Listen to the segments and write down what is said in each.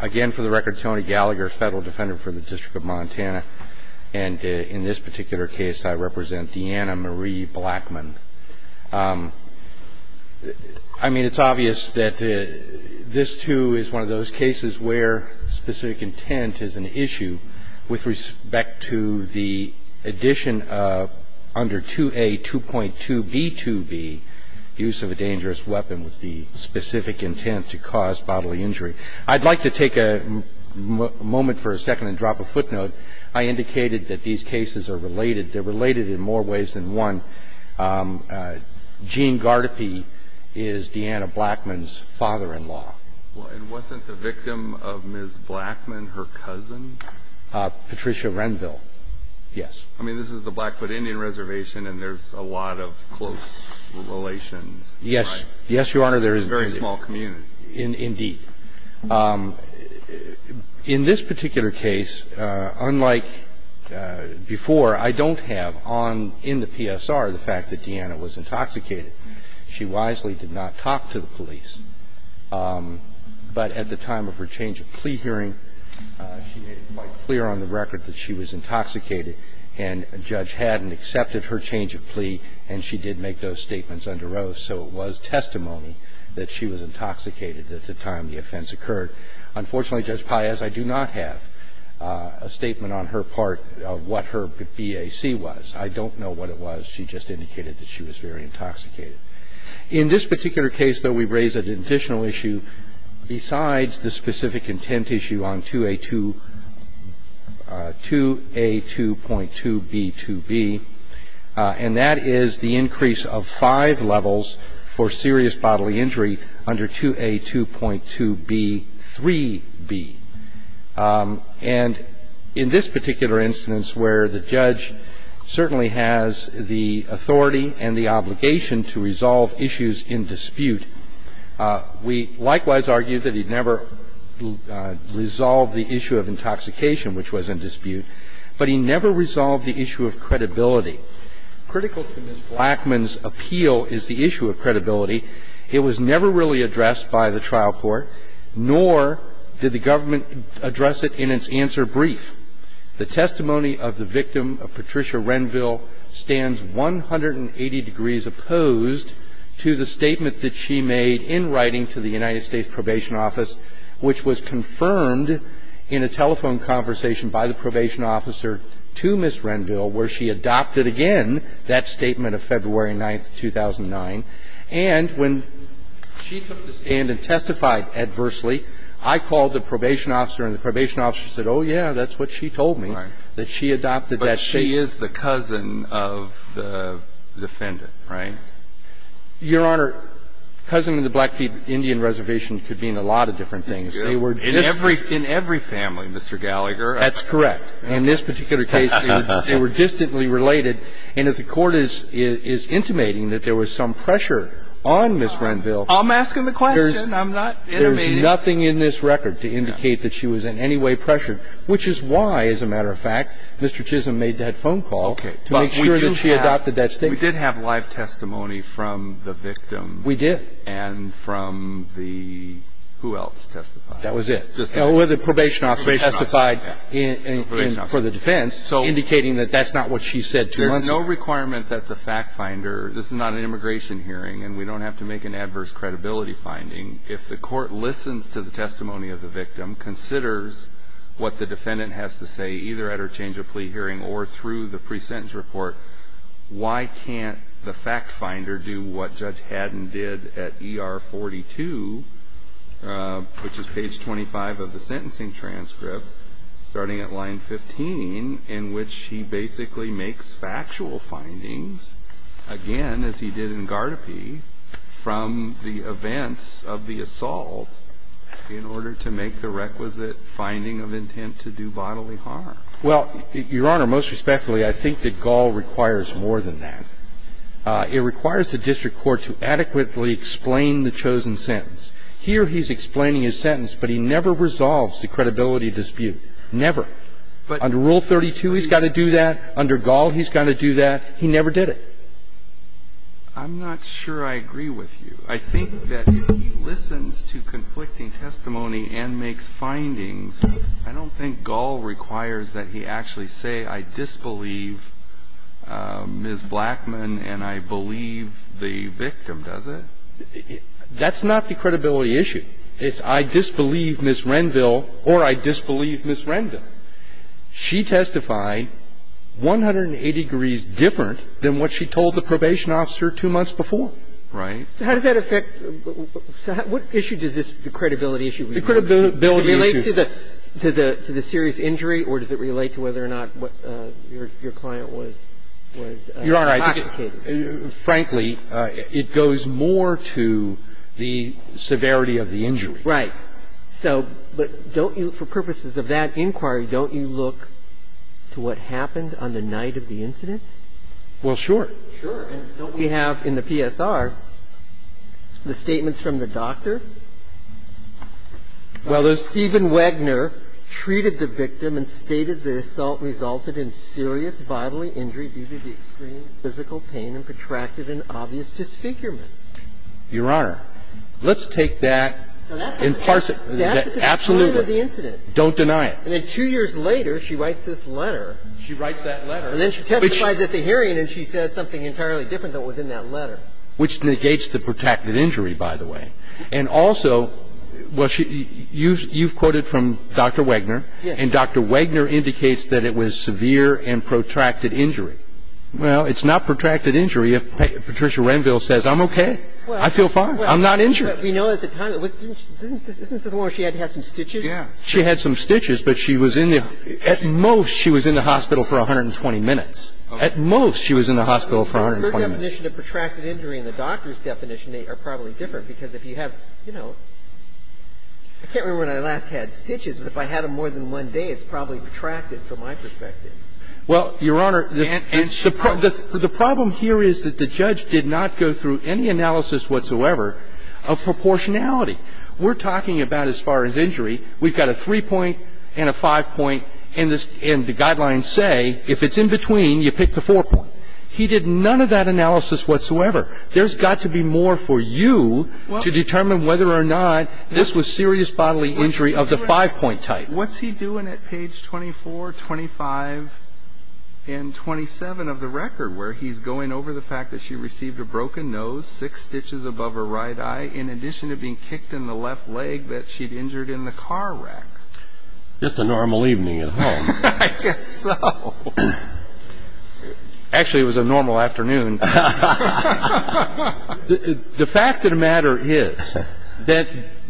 Again, for the record, Tony Gallagher, Federal Defender for the District of Montana. And in this particular case, I represent Deanna Marie Blackman. I mean, it's obvious that this, too, is one of those cases where specific intent is an issue with respect to the addition of under 2A 2.2b2b, use of a dangerous weapon with the specific intent to cause bodily injury. I'd like to take a moment for a second and drop a footnote. I indicated that these cases are related. They're related in more ways than one. Gene Gardepe is Deanna Blackman's father-in-law. And wasn't the victim of Ms. Blackman her cousin? Patricia Renville, yes. I mean, this is the Blackfoot Indian Reservation, and there's a lot of close relations. Yes. Yes, Your Honor, there is. It's a very small community. Indeed. In this particular case, unlike before, I don't have on, in the PSR, the fact that Deanna was intoxicated. She wisely did not talk to the police. But at the time of her change of plea hearing, she made it quite clear on the record that she was intoxicated, and a judge hadn't accepted her change of plea, and she did make those statements under oath. And so it was testimony that she was intoxicated at the time the offense occurred. Unfortunately, Judge Paez, I do not have a statement on her part of what her BAC was. I don't know what it was. She just indicated that she was very intoxicated. In this particular case, though, we raise an additional issue besides the specific for serious bodily injury under 2A2.2b3b. And in this particular instance where the judge certainly has the authority and the obligation to resolve issues in dispute, we likewise argue that he never resolved the issue of intoxication, which was in dispute, but he never resolved the issue of credibility. Critical to Ms. Blackman's appeal is the issue of credibility. It was never really addressed by the trial court, nor did the government address it in its answer brief. The testimony of the victim of Patricia Renville stands 180 degrees opposed to the statement that she made in writing to the United States Probation Office, which was confirmed in a telephone conversation by the probation officer to Ms. Renville, where she adopted again that statement of February 9, 2009. And when she took the stand and testified adversely, I called the probation officer, and the probation officer said, oh, yeah, that's what she told me, that she adopted that statement. But she is the cousin of the defendant, right? Your Honor, cousin of the Blackfeet Indian Reservation could mean a lot of different things. They were distant. In every family, Mr. Gallagher. That's correct. In this particular case, they were distantly related. And if the Court is intimating that there was some pressure on Ms. Renville I'm asking the question. I'm not intimating. There's nothing in this record to indicate that she was in any way pressured, which is why, as a matter of fact, Mr. Chisholm made that phone call to make sure that she adopted that statement. We did have live testimony from the victim. We did. And from the, who else testified? That was it. The probation officer testified for the defense, indicating that that's not what she said. There's no requirement that the fact finder, this is not an immigration hearing, and we don't have to make an adverse credibility finding. If the Court listens to the testimony of the victim, considers what the defendant has to say, either at her change of plea hearing or through the pre-sentence report, why can't the fact finder do what Judge Haddon did at ER 42, which is page 25 of the sentencing transcript, starting at line 15, in which he basically makes factual findings, again, as he did in Gardope, from the events of the assault in order to make the requisite finding of intent to do bodily harm? Well, Your Honor, most respectfully, I think that Gall requires more than that. It requires the district court to adequately explain the chosen sentence. Here he's explaining his sentence, but he never resolves the credibility dispute. Never. Under Rule 32, he's got to do that. Under Gall, he's got to do that. He never did it. I'm not sure I agree with you. I think that if he listens to conflicting testimony and makes findings, I don't think Gall requires that he actually say, I disbelieve Ms. Blackman and I believe the victim. Does it? That's not the credibility issue. It's I disbelieve Ms. Renville or I disbelieve Ms. Renville. She testified 180 degrees different than what she told the probation officer two months before. Right. How does that affect the issue? What issue does this credibility issue relate to? Does it relate to the serious injury or does it relate to whether or not your client was intoxicated? Your Honor, I think, frankly, it goes more to the severity of the injury. Right. So but don't you, for purposes of that inquiry, don't you look to what happened on the night of the incident? Well, sure. Sure. And don't we have in the PSR the statements from the doctor? Well, there's... Stephen Wagner treated the victim and stated the assault resulted in serious bodily injury due to the extreme physical pain and protracted and obvious disfigurement. Your Honor, let's take that and parse it. Absolutely. That's at the time of the incident. Don't deny it. And then two years later she writes this letter. She writes that letter. And then she testifies at the hearing and she says something entirely different than what was in that letter. Which negates the protracted injury, by the way. And also, well, you've quoted from Dr. Wagner. Yes. And Dr. Wagner indicates that it was severe and protracted injury. Well, it's not protracted injury if Patricia Renville says, I'm okay. I feel fine. I'm not injured. We know at the time. Isn't it the one where she had to have some stitches? Yeah. She had some stitches, but she was in the at most she was in the hospital for 120 minutes. At most she was in the hospital for 120 minutes. Her definition of protracted injury and the doctor's definition are probably different because if you have, you know, I can't remember when I last had stitches, but if I had them more than one day, it's probably protracted from my perspective. Well, Your Honor, the problem here is that the judge did not go through any analysis whatsoever of proportionality. We're talking about, as far as injury, we've got a three-point and a five-point and the guidelines say if it's in between, you pick the four-point. He did none of that analysis whatsoever. There's got to be more for you to determine whether or not this was serious bodily injury of the five-point type. What's he doing at page 24, 25, and 27 of the record where he's going over the fact that she received a broken nose, six stitches above her right eye, in addition to being kicked in the left leg that she'd injured in the car wreck? Just a normal evening at home. I guess so. Actually, it was a normal afternoon. The fact of the matter is that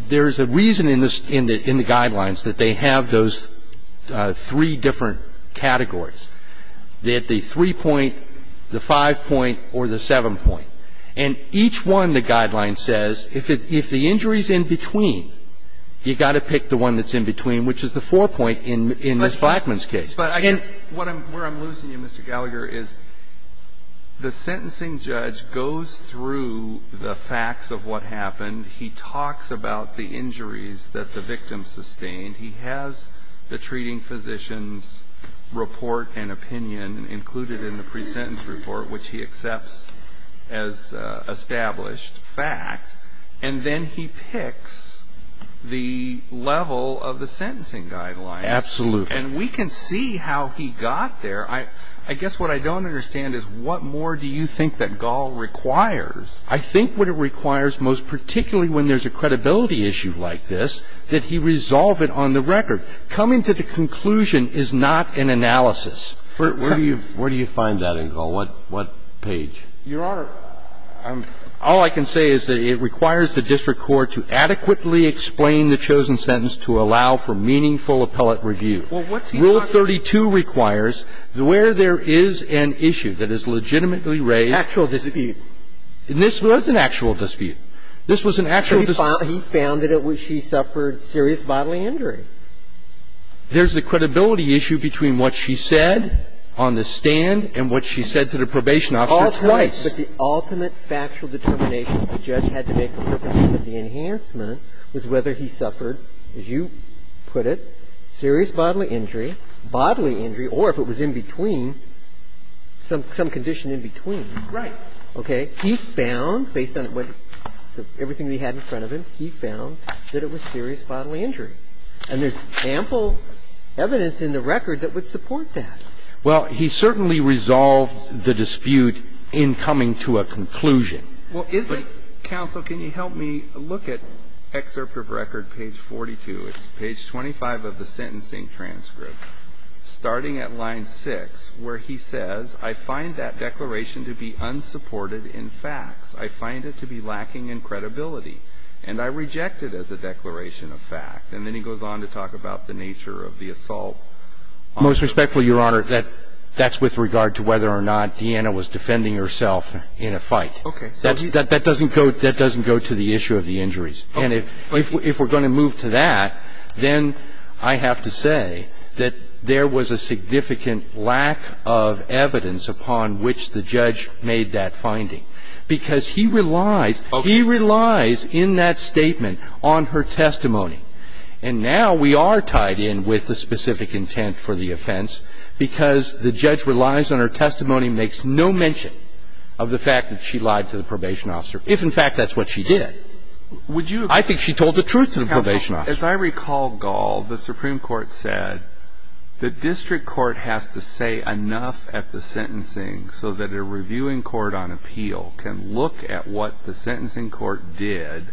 there's a reason in the guidelines that they have those three different categories, the three-point, the five-point, or the seven-point. And each one the guideline says if the injury's in between, you've got to pick the one that's in between, which is the four-point in Ms. Blackman's case. But I guess where I'm losing you, Mr. Gallagher, is the sentencing judge goes through the facts of what happened. He talks about the injuries that the victim sustained. He has the treating physician's report and opinion included in the pre-sentence report, which he accepts as established fact. And then he picks the level of the sentencing guidelines. Absolutely. And we can see how he got there. I guess what I don't understand is what more do you think that Gall requires? I think what it requires most particularly when there's a credibility issue like this, that he resolve it on the record. Coming to the conclusion is not an analysis. Where do you find that in Gall? What page? Your Honor, all I can say is that it requires the district court to adequately explain the chosen sentence to allow for meaningful appellate review. Well, what's he talking about? Rule 32 requires where there is an issue that is legitimately raised. Actual dispute. This was an actual dispute. This was an actual dispute. He found that she suffered serious bodily injury. There's a credibility issue between what she said on the stand and what she said to the probation officer twice. But the ultimate factual determination the judge had to make for purposes of the enhancement was whether he suffered, as you put it, serious bodily injury, bodily injury, or if it was in between, some condition in between. Right. Okay? He found, based on everything we had in front of him, he found that it was serious bodily injury. And there's ample evidence in the record that would support that. Well, he certainly resolved the dispute in coming to a conclusion. Well, is it, counsel, can you help me look at excerpt of record page 42? It's page 25 of the sentencing transcript. Starting at line 6, where he says, I find that declaration to be unsupported in facts. I find it to be lacking in credibility. And I reject it as a declaration of fact. And then he goes on to talk about the nature of the assault. Most respectfully, Your Honor, that's with regard to whether or not Deanna was defending herself in a fight. Okay. That doesn't go to the issue of the injuries. Okay. And if we're going to move to that, then I have to say that there was a significant lack of evidence upon which the judge made that finding, because he relies, he relies in that statement on her testimony. And now we are tied in with the specific intent for the offense, because the judge relies on her testimony, makes no mention of the fact that she lied to the probation officer, if in fact that's what she did. I think she told the truth to the probation officer. Counsel, as I recall, Gall, the Supreme Court said the district court has to say enough at the sentencing so that a reviewing court on appeal can look at what the sentencing court did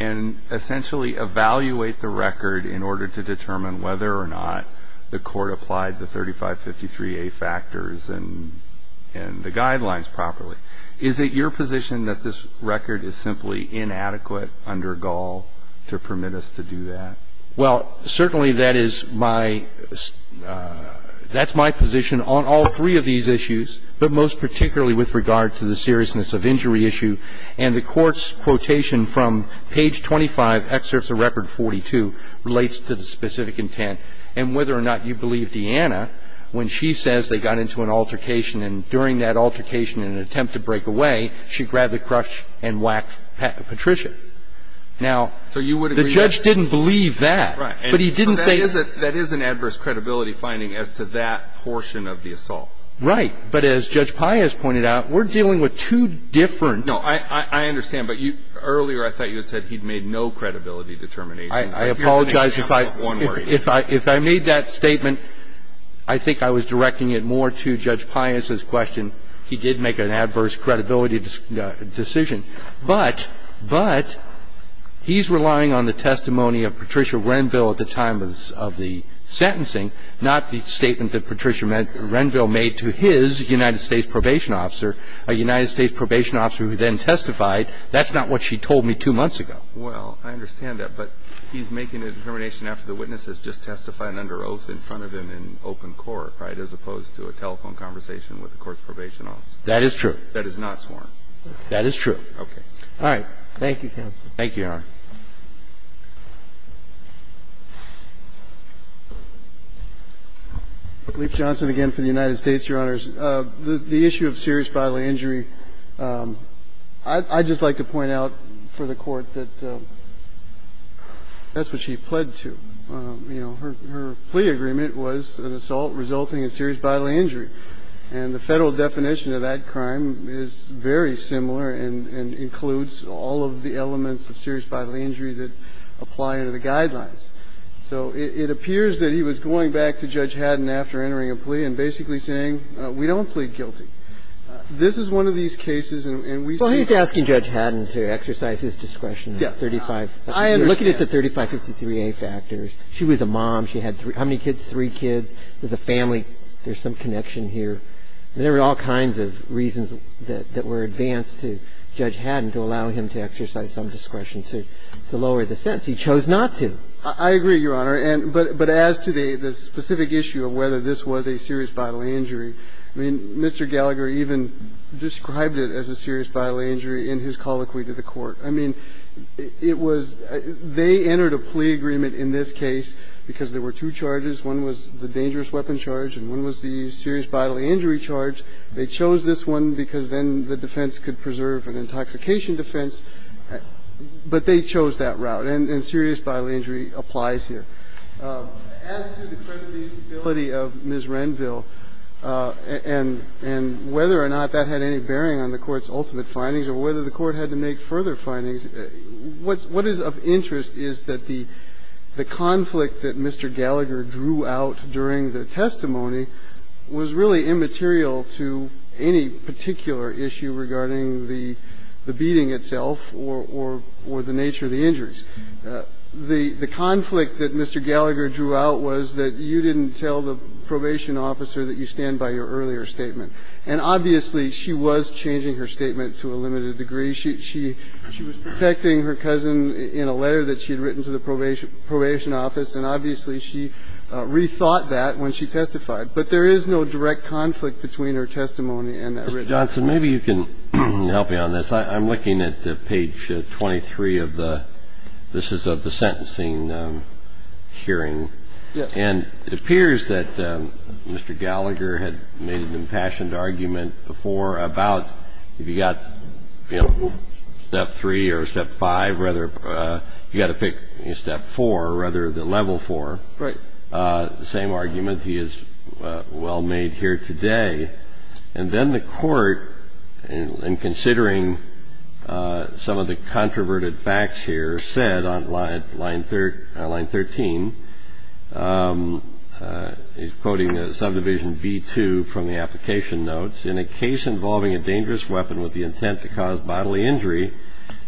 and essentially evaluate the record in order to determine whether or not the to say that the court did not do justice to the factors and the guidelines properly. Is it your position that this record is simply inadequate under Gall to permit us to do that? Well, certainly that is my ‑‑ that's my position on all three of these issues, but most particularly with regard to the seriousness of injury issue. And the Court's quotation from page 25, excerpts of record 42, relates to the specific intent. And whether or not you believe Deanna, when she says they got into an altercation and during that altercation in an attempt to break away, she grabbed the crutch and whacked Patricia. Now, the judge didn't believe that. Right. But he didn't say ‑‑ So that is an adverse credibility finding as to that portion of the assault. Right. But as Judge Pius pointed out, we're dealing with two different ‑‑ No. I understand. But earlier I thought you had said he'd made no credibility determination. Here's an example of one where he did. I apologize. If I made that statement, I think I was directing it more to Judge Pius's question. He did make an adverse credibility decision. But he's relying on the testimony of Patricia Renville at the time of the sentencing, not the statement that Patricia Renville made to his United States probation officer, a United States probation officer who then testified, that's not what she told me two months ago. Well, I understand that. But he's making a determination after the witness has just testified under oath in front of him in open court, right, as opposed to a telephone conversation with the court's probation officer. That is true. That is not sworn. Okay. All right. Thank you, counsel. Thank you, Your Honor. Leif Johnson again for the United States, Your Honors. The issue of serious bodily injury, I'd just like to point out for the Court that that's what she pled to. You know, her plea agreement was an assault resulting in serious bodily injury. And the Federal definition of that crime is very similar and includes all of the elements of serious bodily injury. And the Federal definition of a serious bodily injury is that it's a bodily injury that applies under the guidelines. So it appears that he was going back to Judge Haddon after entering a plea and basically saying, we don't plead guilty. This is one of these cases, and we see that. Well, he's asking Judge Haddon to exercise his discretion. Yeah. I understand. Looking at the 3553A factors, she was a mom. She had how many kids? Three kids. There's a family. There's some connection here. There are all kinds of reasons that were advanced to Judge Haddon to allow him to exercise some discretion to lower the sentence. He chose not to. I agree, Your Honor. But as to the specific issue of whether this was a serious bodily injury, I mean, Mr. Gallagher even described it as a serious bodily injury in his colloquy to the Court. I mean, it was they entered a plea agreement in this case because there were two charges. One was the dangerous weapon charge and one was the serious bodily injury charge. They chose this one because then the defense could preserve an intoxication defense, but they chose that route. And serious bodily injury applies here. As to the credibility of Ms. Renville and whether or not that had any bearing on the Court's ultimate findings or whether the Court had to make further findings, what is of interest is that the conflict that Mr. Gallagher drew out during the testimony was really immaterial to any particular issue regarding the beating itself or the nature of the injuries. The conflict that Mr. Gallagher drew out was that you didn't tell the probation officer that you stand by your earlier statement. And obviously, she was changing her statement to a limited degree. She was protecting her cousin in a letter that she had written to the probation office, and obviously, she rethought that when she testified. But there is no direct conflict between her testimony and that written testimony. Mr. Johnson, maybe you can help me on this. I'm looking at page 23 of the – this is of the sentencing hearing. Yes. And it appears that Mr. Gallagher had made an impassioned argument before about if you've got, you know, step three or step five, rather – you've got to pick, you know, step four, rather than level four. Right. The same argument he has well made here today. And then the Court, in considering some of the controverted facts here, said on line 13 – he's quoting subdivision B2 from the application notes, in a case involving a dangerous weapon with the intent to cause bodily injury,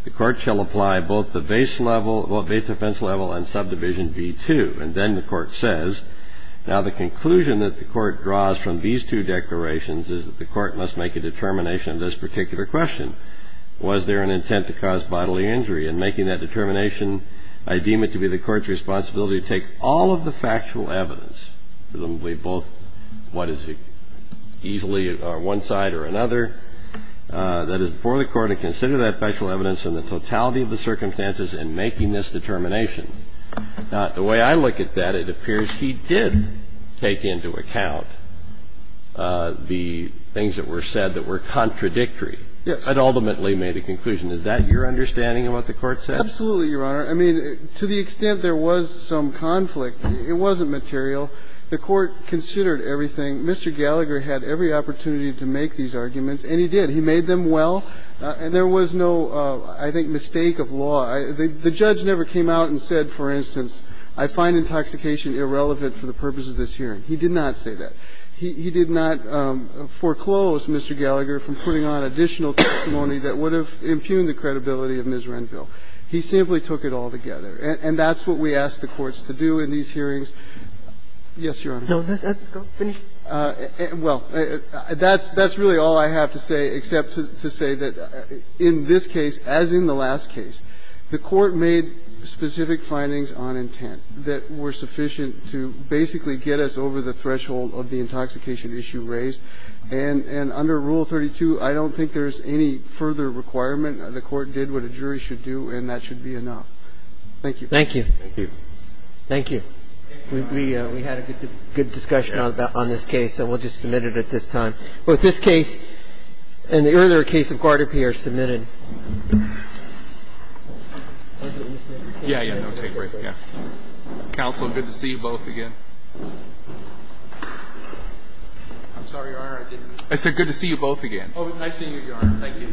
the Court shall apply both the base level – both base defense level and subdivision B2. And then the Court says, now the conclusion that the Court draws from these two declarations is that the Court must make a determination of this particular question. Was there an intent to cause bodily injury? In making that determination, I deem it to be the Court's responsibility to take all of the factual evidence, presumably both what is easily one side or another, that is, for the Court to consider that factual evidence in the totality of the circumstances in making this determination. Now, the way I look at that, it appears he did take into account the things that were said that were contradictory. Yes. But ultimately made a conclusion. Is that your understanding of what the Court said? Absolutely, Your Honor. I mean, to the extent there was some conflict, it wasn't material. The Court considered everything. Mr. Gallagher had every opportunity to make these arguments, and he did. He made them well. And there was no, I think, mistake of law. The judge never came out and said, for instance, I find intoxication irrelevant for the purpose of this hearing. He did not say that. He did not foreclose, Mr. Gallagher, from putting on additional testimony that would have impugned the credibility of Ms. Renville. He simply took it all together. And that's what we ask the courts to do in these hearings. Yes, Your Honor. Well, that's really all I have to say, except to say that in this case, as in the last case, the Court made specific findings on intent that were sufficient to basically get us over the threshold of the intoxication issue raised. And under Rule 32, I don't think there's any further requirement. The Court did what a jury should do, and that should be enough. Thank you. Thank you. Thank you. Thank you. We had a good discussion on this case, and we'll just submit it at this time. Both this case and the earlier case of Guardrappi are submitted. Yeah, yeah, no, take a break. Counsel, good to see you both again. I'm sorry, Your Honor, I didn't. I said good to see you both again. Oh, nice seeing you, Your Honor. Thank you.